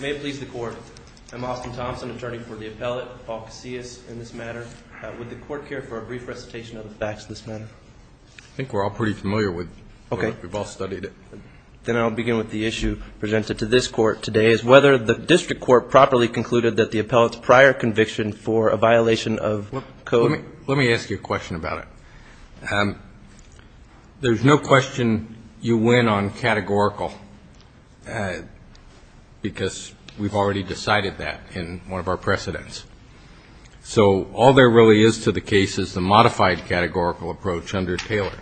May it please the court, I'm Austin Thompson, attorney for the appellate, Paul Casillas in this matter. Would the court care for a brief recitation of the facts of this matter? I think we're all pretty familiar with it. We've all studied it. Then I'll begin with the issue presented to this court today, is whether the district court properly concluded that the appellate's prior conviction for a violation of code Let me ask you a question about it. There's no question you win on categorical, because we've already decided that in one of our precedents. So all there really is to the case is the modified categorical approach under Taylor.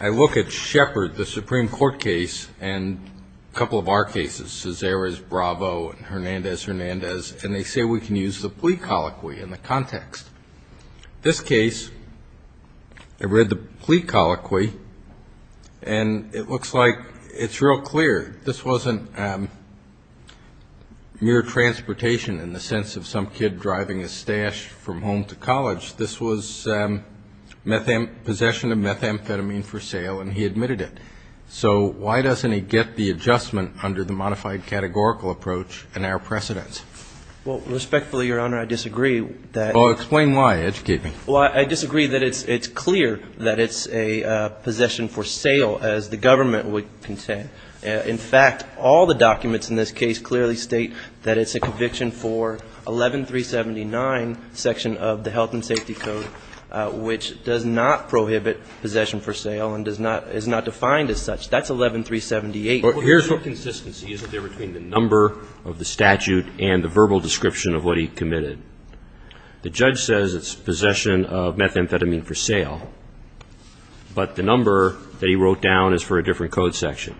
I look at Shepard, the Supreme Court case, and a couple of our cases, Cesare's, Bravo, and Hernandez-Hernandez, and they say we can use the plea colloquy in the context. This case, I read the plea colloquy, and it looks like it's real clear. This wasn't mere transportation in the sense of some kid driving his stash from home to college. This was possession of methamphetamine for sale, and he admitted it. So why doesn't he get the adjustment under the modified categorical approach in our precedents? Well, respectfully, Your Honor, I disagree. Explain why. Educate me. Well, I disagree that it's clear that it's a possession for sale, as the government would contend. In fact, all the documents in this case clearly state that it's a conviction for 11379, section of the Health and Safety Code, which does not prohibit possession for sale and is not defined as such. That's 11378. Well, here's what consistency is there between the number of the statute and the verbal description of what he committed. The judge says it's possession of methamphetamine for sale, but the number that he wrote down is for a different code section.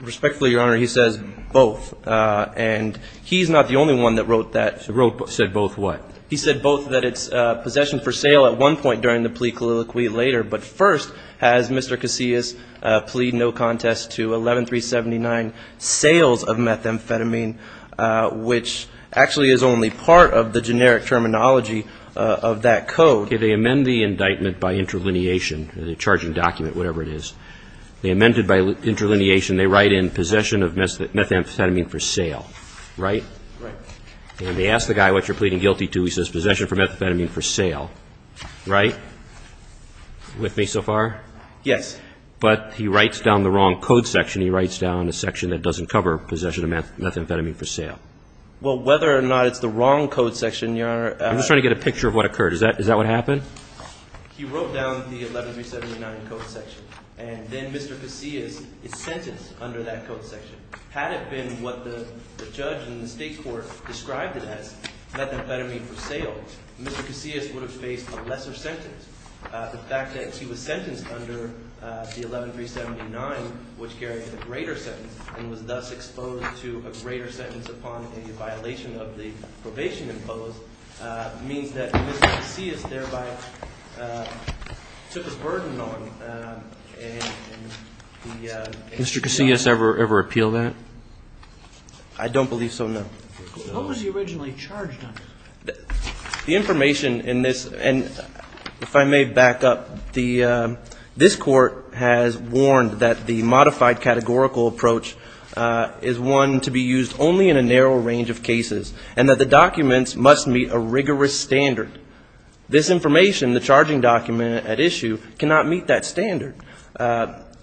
Respectfully, Your Honor, he says both, and he's not the only one that wrote that. He said both what? He said both that it's possession for sale at one point during the plea colloquy later, but first has Mr. Casillas plead no contest to 11379, sales of methamphetamine, which actually is only part of the generic terminology of that code. Okay. They amend the indictment by interlineation, the charging document, whatever it is. They amend it by interlineation. They write in possession of methamphetamine for sale, right? Right. And they ask the guy what you're pleading guilty to. He says possession for methamphetamine for sale, right? With me so far? Yes. But he writes down the wrong code section. He writes down the section that doesn't cover possession of methamphetamine for sale. Well, whether or not it's the wrong code section, Your Honor – I'm just trying to get a picture of what occurred. Is that what happened? He wrote down the 11379 code section, and then Mr. Casillas is sentenced under that code section. Had it been what the judge in the state court described it as, methamphetamine for sale, Mr. Casillas would have faced a lesser sentence. The fact that he was sentenced under the 11379, which carries a greater sentence and was thus exposed to a greater sentence upon a violation of the probation imposed, means that Mr. Casillas thereby took his burden on. Did Mr. Casillas ever appeal that? I don't believe so, no. What was he originally charged under? The information in this, and if I may back up, this court has warned that the modified categorical approach is one to be used only in a narrow range of cases and that the documents must meet a rigorous standard. This information, the charging document at issue, cannot meet that standard.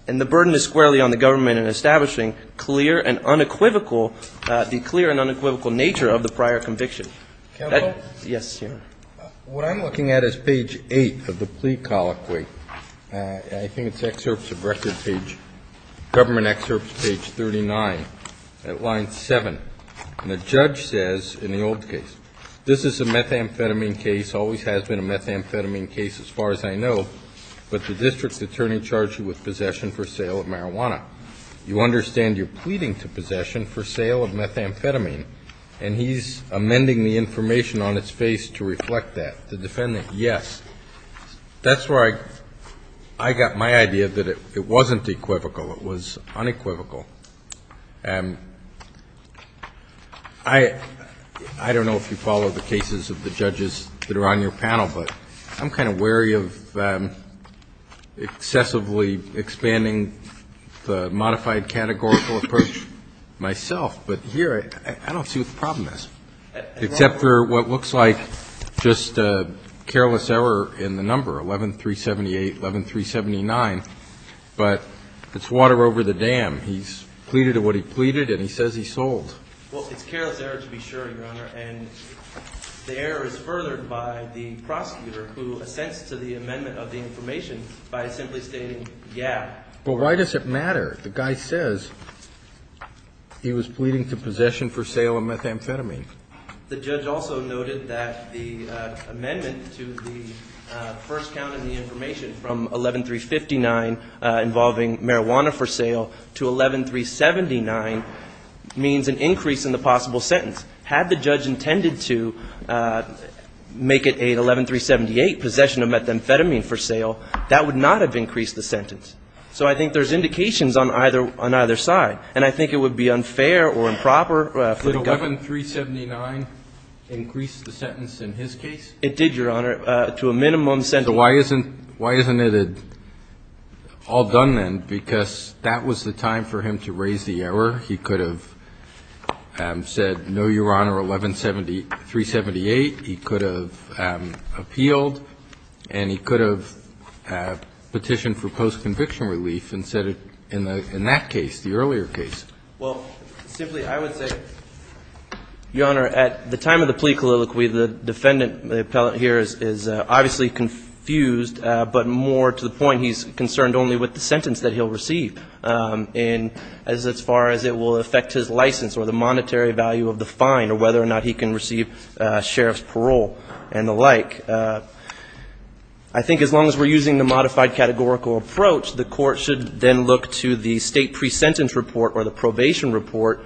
And the burden is squarely on the government in establishing clear and unequivocal, the clear and unequivocal nature of the prior conviction. Counsel? Yes, Your Honor. What I'm looking at is page 8 of the plea colloquy. I think it's excerpts of record page, government excerpts, page 39, at line 7. And the judge says in the old case, this is a methamphetamine case, always has been a methamphetamine case as far as I know, but the district attorney charged you with possession for sale of marijuana. You understand you're pleading to possession for sale of methamphetamine, and he's amending the information on its face to reflect that. The defendant, yes. That's where I got my idea that it wasn't equivocal, it was unequivocal. I don't know if you follow the cases of the judges that are on your panel, but I'm kind of wary of excessively expanding the modified categorical approach myself. But here I don't see what the problem is, except for what looks like just a careless error in the number, 11-378, 11-379. But it's water over the dam. He's pleaded to what he pleaded, and he says he sold. Well, it's careless error to be sure, Your Honor. And the error is furthered by the prosecutor who assents to the amendment of the information by simply stating, yeah. But why does it matter? The guy says he was pleading to possession for sale of methamphetamine. The judge also noted that the amendment to the first count in the information from 11-359 involving marijuana for sale to 11-379 means an increase in the possible sentence. Had the judge intended to make it a 11-378, possession of methamphetamine for sale, that would not have increased the sentence. So I think there's indications on either side. And I think it would be unfair or improper for the government. Did 11-379 increase the sentence in his case? It did, Your Honor, to a minimum sentence. So why isn't it all done then? Because that was the time for him to raise the error. He could have said, no, Your Honor, 11-378. He could have appealed. And he could have petitioned for post-conviction relief and said it in that case, the earlier case. Well, simply, I would say, Your Honor, at the time of the plea colloquy, the defendant here is obviously confused, but more to the point, he's concerned only with the sentence that he'll receive. And as far as it will affect his license or the monetary value of the fine or whether or not he can receive sheriff's parole and the like, I think as long as we're using the modified categorical approach, the court should then look to the state pre-sentence report or the probation report,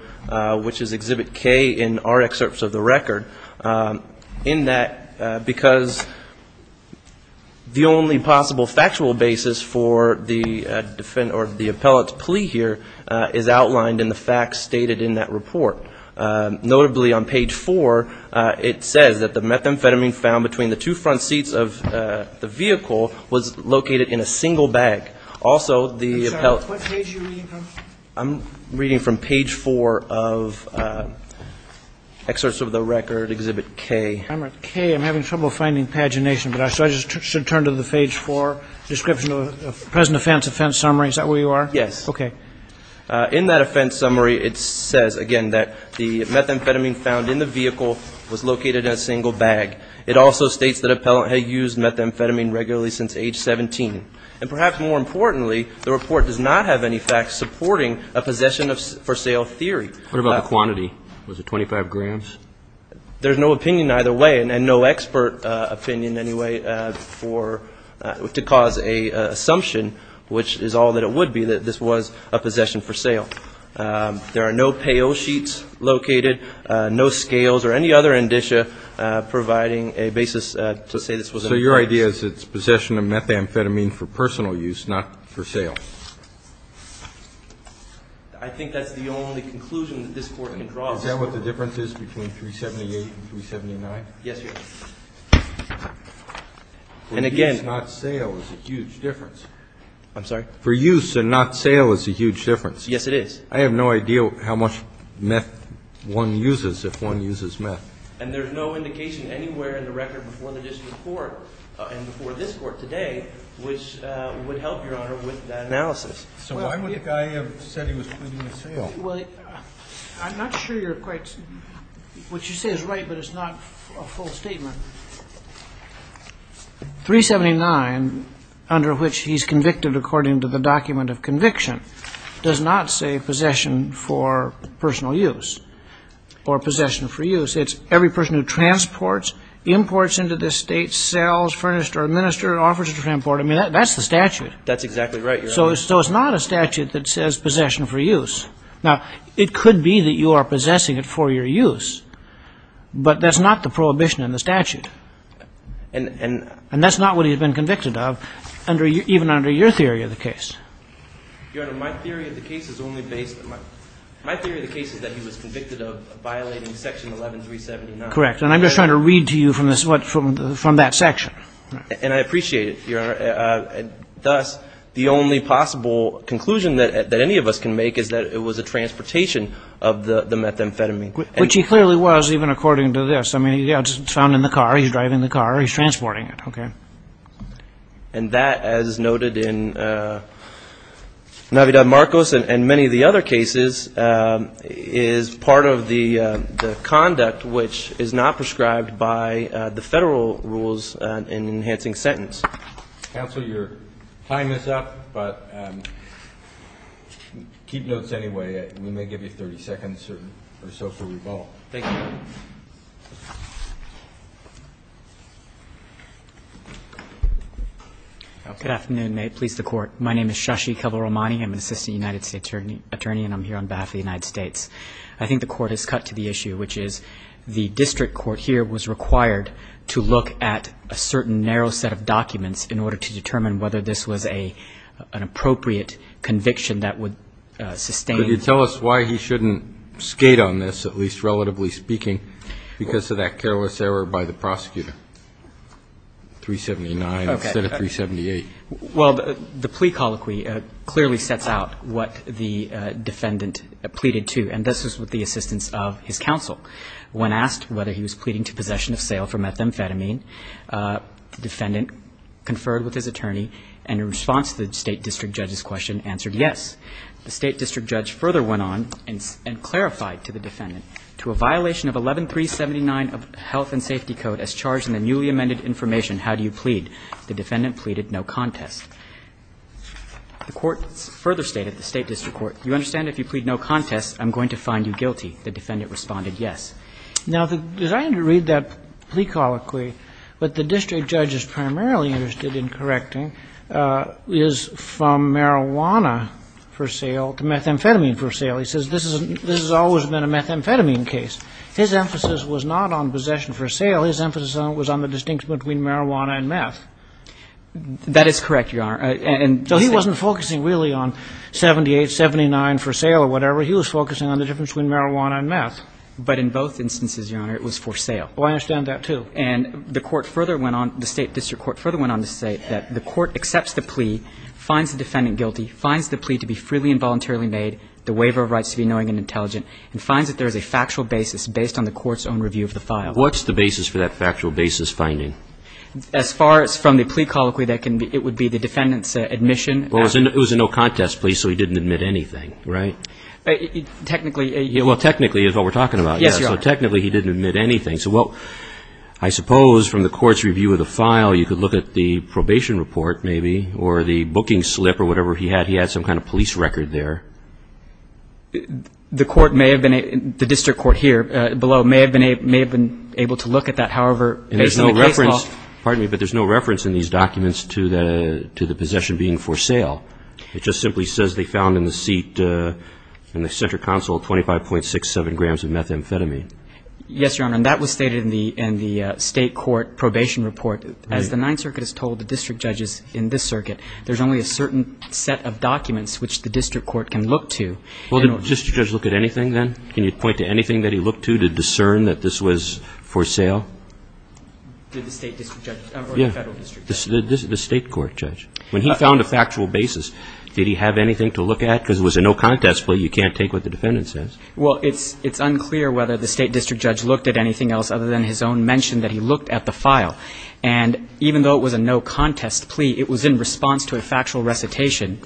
which is Exhibit K in our excerpts of the record, in that because the only possible factual basis for the defendant or the appellate to file a plea here is outlined in the facts stated in that report. Notably, on page four, it says that the methamphetamine found between the two front seats of the vehicle was located in a single bag. Also, the appellate ---- I'm sorry. What page are you reading from? I'm reading from page four of excerpts of the record, Exhibit K. I'm at K. I'm having trouble finding pagination, but I should turn to the page four description of present offense, offense summary. Is that where you are? Yes. Okay. In that offense summary, it says, again, that the methamphetamine found in the vehicle was located in a single bag. It also states that appellant had used methamphetamine regularly since age 17. And perhaps more importantly, the report does not have any facts supporting a possession for sale theory. What about the quantity? Was it 25 grams? There's no opinion either way and no expert opinion anyway to cause an assumption, which is all that it would be, that this was a possession for sale. There are no payo sheets located, no scales or any other indicia providing a basis to say this was an offense. So your idea is it's possession of methamphetamine for personal use, not for sale? I think that's the only conclusion that this Court can draw. Is that what the difference is between 378 and 379? Yes, Your Honor. And again. For use, not sale is a huge difference. I'm sorry? For use and not sale is a huge difference. Yes, it is. I have no idea how much meth one uses if one uses meth. And there's no indication anywhere in the record before the district court and before this Court today which would help, Your Honor, with that analysis. So why would the guy have said he was pleading for sale? Well, I'm not sure you're quite what you say is right, but it's not a full statement. 379, under which he's convicted according to the document of conviction, does not say possession for personal use or possession for use. It's every person who transports, imports into this state, sells, furnished or administered, offers to import. I mean, that's the statute. That's exactly right, Your Honor. So it's not a statute that says possession for use. Now, it could be that you are possessing it for your use, but that's not the prohibition in the statute. And that's not what he had been convicted of even under your theory of the case. Your Honor, my theory of the case is only based on my theory of the case is that he was convicted of violating Section 11379. Correct. And I'm just trying to read to you from that section. And I appreciate it, Your Honor. Thus, the only possible conclusion that any of us can make is that it was a transportation of the methamphetamine. Which he clearly was, even according to this. I mean, yeah, it's found in the car. He's driving the car. He's transporting it. Okay. And that, as noted in Navidad-Marcos and many of the other cases, is part of the conduct which is not prescribed by the federal rules in enhancing sentence. Counsel, your time is up, but keep notes anyway. We may give you 30 seconds or so for rebuttal. Thank you. Good afternoon. May it please the Court. My name is Shashi Kevalramani. I'm an assistant United States attorney, and I'm here on behalf of the United States. I think the Court has cut to the issue, which is the district court here was required to look at a certain narrow set of documents in order to determine whether this was an appropriate conviction that would sustain. Could you tell us why he shouldn't skate on this, at least relatively speaking, because of that careless error by the prosecutor? 379 instead of 378. Well, the plea colloquy clearly sets out what the defendant pleaded to, and this was with the assistance of his counsel. When asked whether he was pleading to possession of sale for methamphetamine, the defendant conferred with his attorney, and in response to the state district judge's question, answered yes. The state district judge further went on and clarified to the defendant, to a violation of 11379 of the Health and Safety Code as charged in the newly amended information, how do you plead? The defendant pleaded no contest. The Court further stated, the state district court, you understand if you plead no contest, I'm going to find you guilty. The defendant responded yes. Now, the reason to read that plea colloquy, but the district judge is primarily interested in correcting, is from marijuana for sale to methamphetamine for sale. He says this has always been a methamphetamine case. His emphasis was not on possession for sale. His emphasis was on the distinction between marijuana and meth. That is correct, Your Honor. So he wasn't focusing really on 78, 79 for sale or whatever. He was focusing on the difference between marijuana and meth. But in both instances, Your Honor, it was for sale. Well, I understand that, too. And the court further went on, the state district court further went on to say that the court accepts the plea, finds the defendant guilty, finds the plea to be freely and voluntarily made, the waiver of rights to be knowing and intelligent, and finds that there is a factual basis based on the court's own review of the file. What's the basis for that factual basis finding? As far as from the plea colloquy, it would be the defendant's admission. Well, it was a no contest plea, so he didn't admit anything, right? Technically. Well, technically is what we're talking about. Yes, Your Honor. So technically he didn't admit anything. So, well, I suppose from the court's review of the file, you could look at the probation report maybe or the booking slip or whatever he had. He had some kind of police record there. The court may have been, the district court here below, may have been able to look at that however based on the case law. And there's no reference, pardon me, but there's no reference in these documents to the possession being for sale. It just simply says they found in the seat in the center console 25.67 grams of methamphetamine. Yes, Your Honor, and that was stated in the state court probation report. As the Ninth Circuit has told the district judges in this circuit, there's only a certain set of documents which the district court can look to. Well, did the district judge look at anything then? Can you point to anything that he looked to to discern that this was for sale? Did the state district judge or the federal district judge? The state court judge. When he found a factual basis, did he have anything to look at? Because it was a no contest plea. You can't take what the defendant says. Well, it's unclear whether the state district judge looked at anything else other than his own mention that he looked at the file. And even though it was a no contest plea, it was in response to a factual recitation,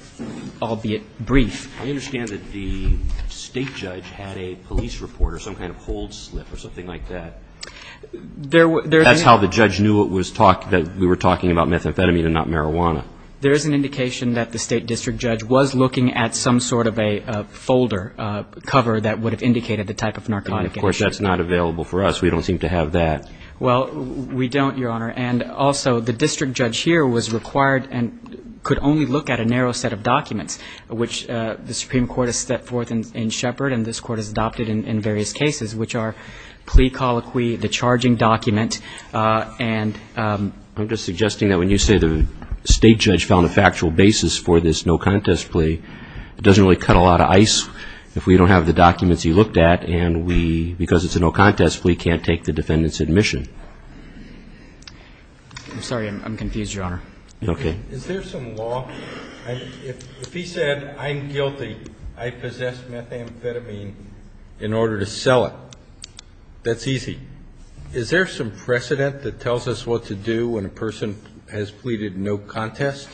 albeit brief. I understand that the state judge had a police report or some kind of hold slip or something like that. That's how the judge knew that we were talking about methamphetamine and not marijuana. There is an indication that the state district judge was looking at some sort of a folder cover that would have indicated the type of narcotic. Of course, that's not available for us. We don't seem to have that. Well, we don't, Your Honor. And also, the district judge here was required and could only look at a narrow set of documents, which the Supreme Court has set forth in Shepard and this court has adopted in various cases, which are plea colloquy, the charging document. And I'm just suggesting that when you say the state judge found a factual basis for this no contest plea, it doesn't really cut a lot of ice if we don't have the documents he looked at and we, because it's a no contest plea, can't take the defendant's admission. I'm sorry. I'm confused, Your Honor. Okay. Is there some law? If he said I'm guilty, I possess methamphetamine in order to sell it, that's easy. Is there some precedent that tells us what to do when a person has pleaded no contest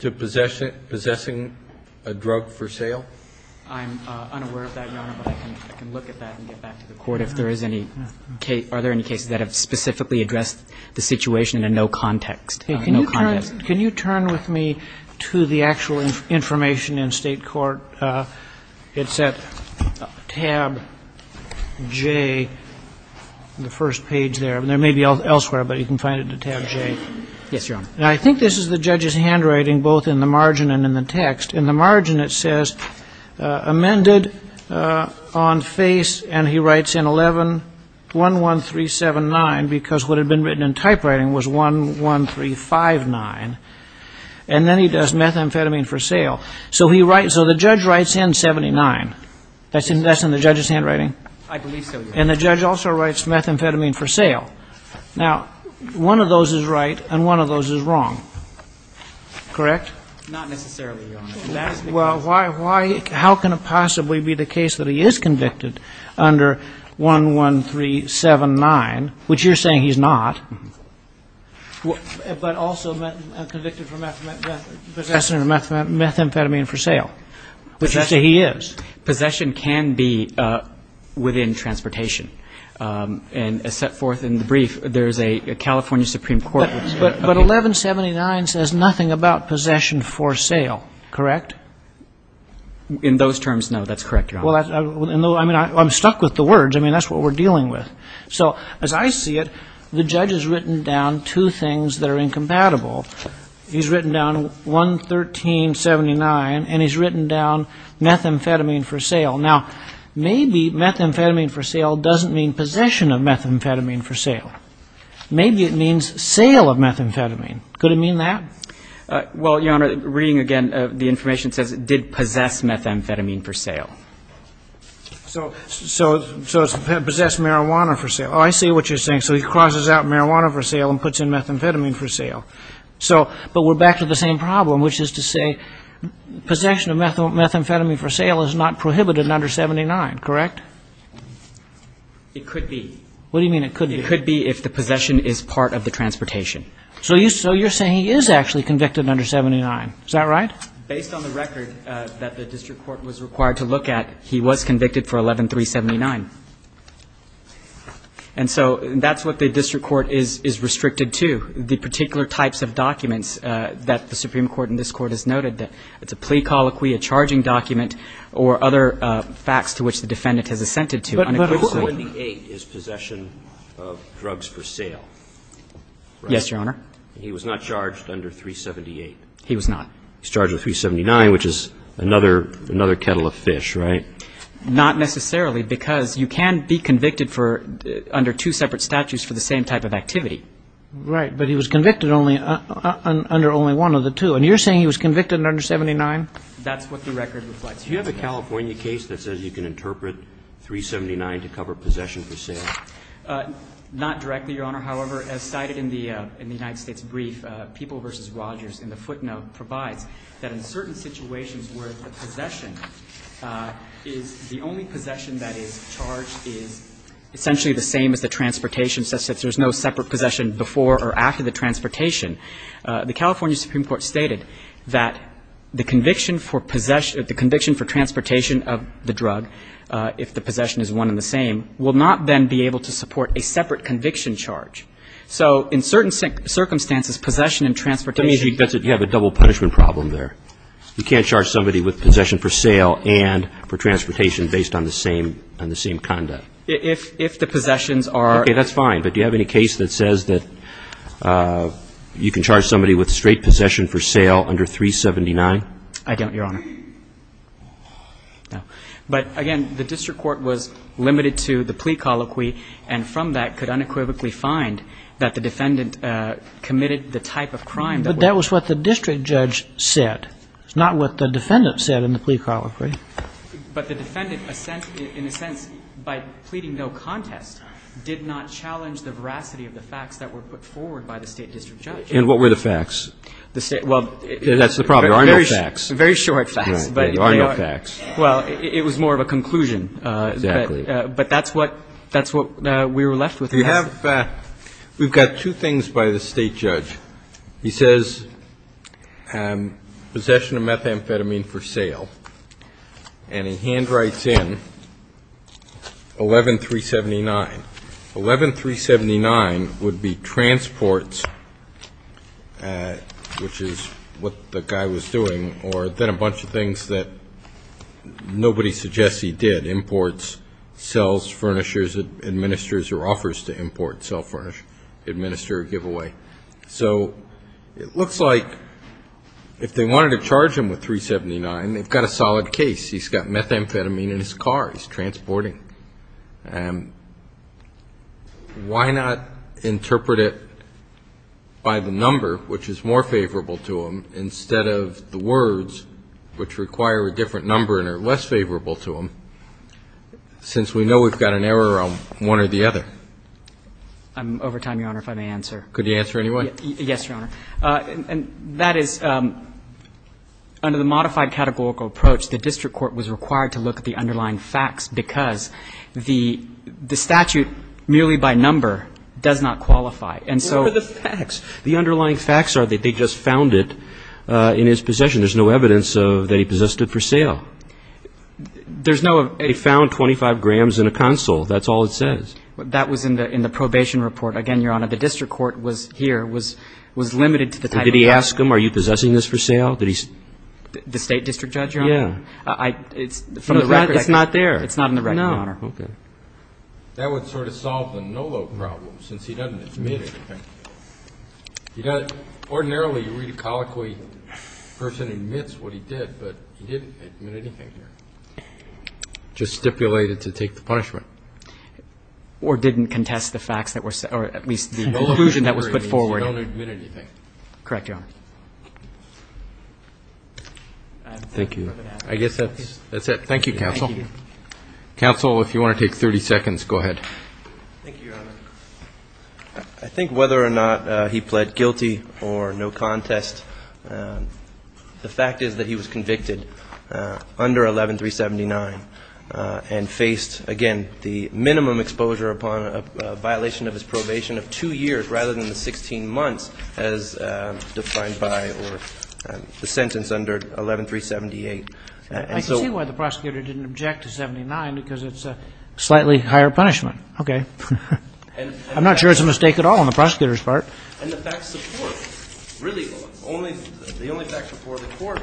to possessing a drug for sale? I'm unaware of that, Your Honor, but I can look at that and get back to the Court if there is any case, are there any cases that have specifically addressed the situation in a no context, no contest. Can you turn with me to the actual information in state court? It's at tab J, the first page there. There may be elsewhere, but you can find it in tab J. Yes, Your Honor. And I think this is the judge's handwriting both in the margin and in the text. In the margin it says amended on face and he writes in 11-11379 because what had been written in typewriting was 11359. And then he does methamphetamine for sale. So the judge writes in 79. That's in the judge's handwriting? I believe so, Your Honor. And the judge also writes methamphetamine for sale. Now, one of those is right and one of those is wrong, correct? Not necessarily, Your Honor. Well, how can it possibly be the case that he is convicted under 11379, which you're saying he's not, but also convicted for possessing methamphetamine for sale, which you say he is? Possession can be within transportation. And as set forth in the brief, there is a California Supreme Court. But 1179 says nothing about possession for sale, correct? In those terms, no. That's correct, Your Honor. Well, I'm stuck with the words. I mean, that's what we're dealing with. So as I see it, the judge has written down two things that are incompatible. He's written down 11379 and he's written down methamphetamine for sale. Now, maybe methamphetamine for sale doesn't mean possession of methamphetamine for sale. Maybe it means sale of methamphetamine. Could it mean that? Well, Your Honor, reading again, the information says it did possess methamphetamine for sale. So it's possessed marijuana for sale. Oh, I see what you're saying. So he crosses out marijuana for sale and puts in methamphetamine for sale. But we're back to the same problem, which is to say possession of methamphetamine for sale is not prohibited under 1779, correct? It could be. What do you mean it could be? It could be if the possession is part of the transportation. So you're saying he is actually convicted under 1779. Is that right? Based on the record that the district court was required to look at, he was convicted for 11379. And so that's what the district court is restricted to, the particular types of documents that the Supreme Court and this Court has noted. It's a plea colloquy, a charging document, or other facts to which the defendant has assented to. But 1778 is possession of drugs for sale, right? Yes, Your Honor. He was not charged under 378. He was not. He's charged with 379, which is another kettle of fish, right? Not necessarily, because you can be convicted under two separate statutes for the same type of activity. Right, but he was convicted under only one of the two. And you're saying he was convicted under 1779? That's what the record reflects. Do you have a California case that says you can interpret 379 to cover possession for sale? Not directly, Your Honor. However, as cited in the United States brief, People v. Rogers in the footnote provides that in certain situations where the possession is the only possession that is charged is essentially the same as the transportation, such that there's no separate possession before or after the transportation. The California Supreme Court stated that the conviction for transportation of the drug, if the possession is one and the same, will not then be able to support a separate conviction charge. So in certain circumstances, possession and transportation can't be charged separately. That means you have a double punishment problem there. You can't charge somebody with possession for sale and for transportation based on the same conduct. If the possessions are – you can charge somebody with straight possession for sale under 379? I don't, Your Honor. No. But, again, the district court was limited to the plea colloquy, and from that could unequivocally find that the defendant committed the type of crime that was – But that was what the district judge said. It's not what the defendant said in the plea colloquy. But the defendant, in a sense, by pleading no contest, did not challenge the veracity of the facts that were put forward by the state district judge. And what were the facts? That's the problem. There are no facts. Very short facts. There are no facts. Well, it was more of a conclusion. Exactly. But that's what we were left with. We have – we've got two things by the state judge. He says possession of methamphetamine for sale, and he handwrites in 11379. 11379 would be transports, which is what the guy was doing, or then a bunch of things that nobody suggests he did, imports, sells, furnishers, administers or offers to import, sell, furnish, administer, give away. So it looks like if they wanted to charge him with 379, they've got a solid case. He's got methamphetamine in his car. He's transporting. Why not interpret it by the number, which is more favorable to him, instead of the words, which require a different number and are less favorable to him, since we know we've got an error on one or the other? I'm over time, Your Honor, if I may answer. Could you answer anyway? Yes, Your Honor. And that is, under the modified categorical approach, the district court was required to look at the underlying facts because the statute merely by number does not qualify. And so the facts, the underlying facts are that they just found it in his possession. There's no evidence that he possessed it for sale. There's no of a ---- They found 25 grams in a console. That's all it says. That was in the probation report. Again, Your Honor, the district court was here, was limited to the type of evidence. Did he ask him, are you possessing this for sale? The state district judge, Your Honor? Yeah. It's not there. It's not in the record, Your Honor. No. Okay. That would sort of solve the NOLO problem, since he doesn't admit anything. You know, ordinarily, you read a colloquy, a person admits what he did, but he didn't admit anything here. Just stipulated to take the punishment. Or didn't contest the facts that were said, or at least the conclusion that was put forward. NOLO means you don't admit anything. Correct, Your Honor. Thank you. I guess that's it. Thank you, counsel. Counsel, if you want to take 30 seconds, go ahead. Thank you, Your Honor. I think whether or not he pled guilty or no contest, the fact is that he was convicted under 11379 and faced, again, the minimum exposure upon a violation of his probation of two years, rather than the 16 months as defined by the sentence under 11378. I can see why the prosecutor didn't object to 79, because it's a slightly higher punishment. Okay. I'm not sure it's a mistake at all on the prosecutor's part. And the facts support, really, the only facts before the court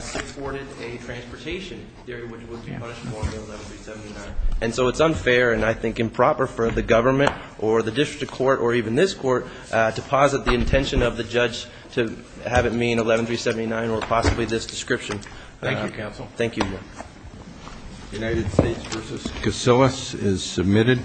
supported a transportation theory which would be punishable under 11379. And so it's unfair and, I think, improper for the government or the district court or even this court to posit the intention of the judge to have it mean 11379 or possibly this description. Thank you, counsel. Thank you. United States v. Casillas is submitted.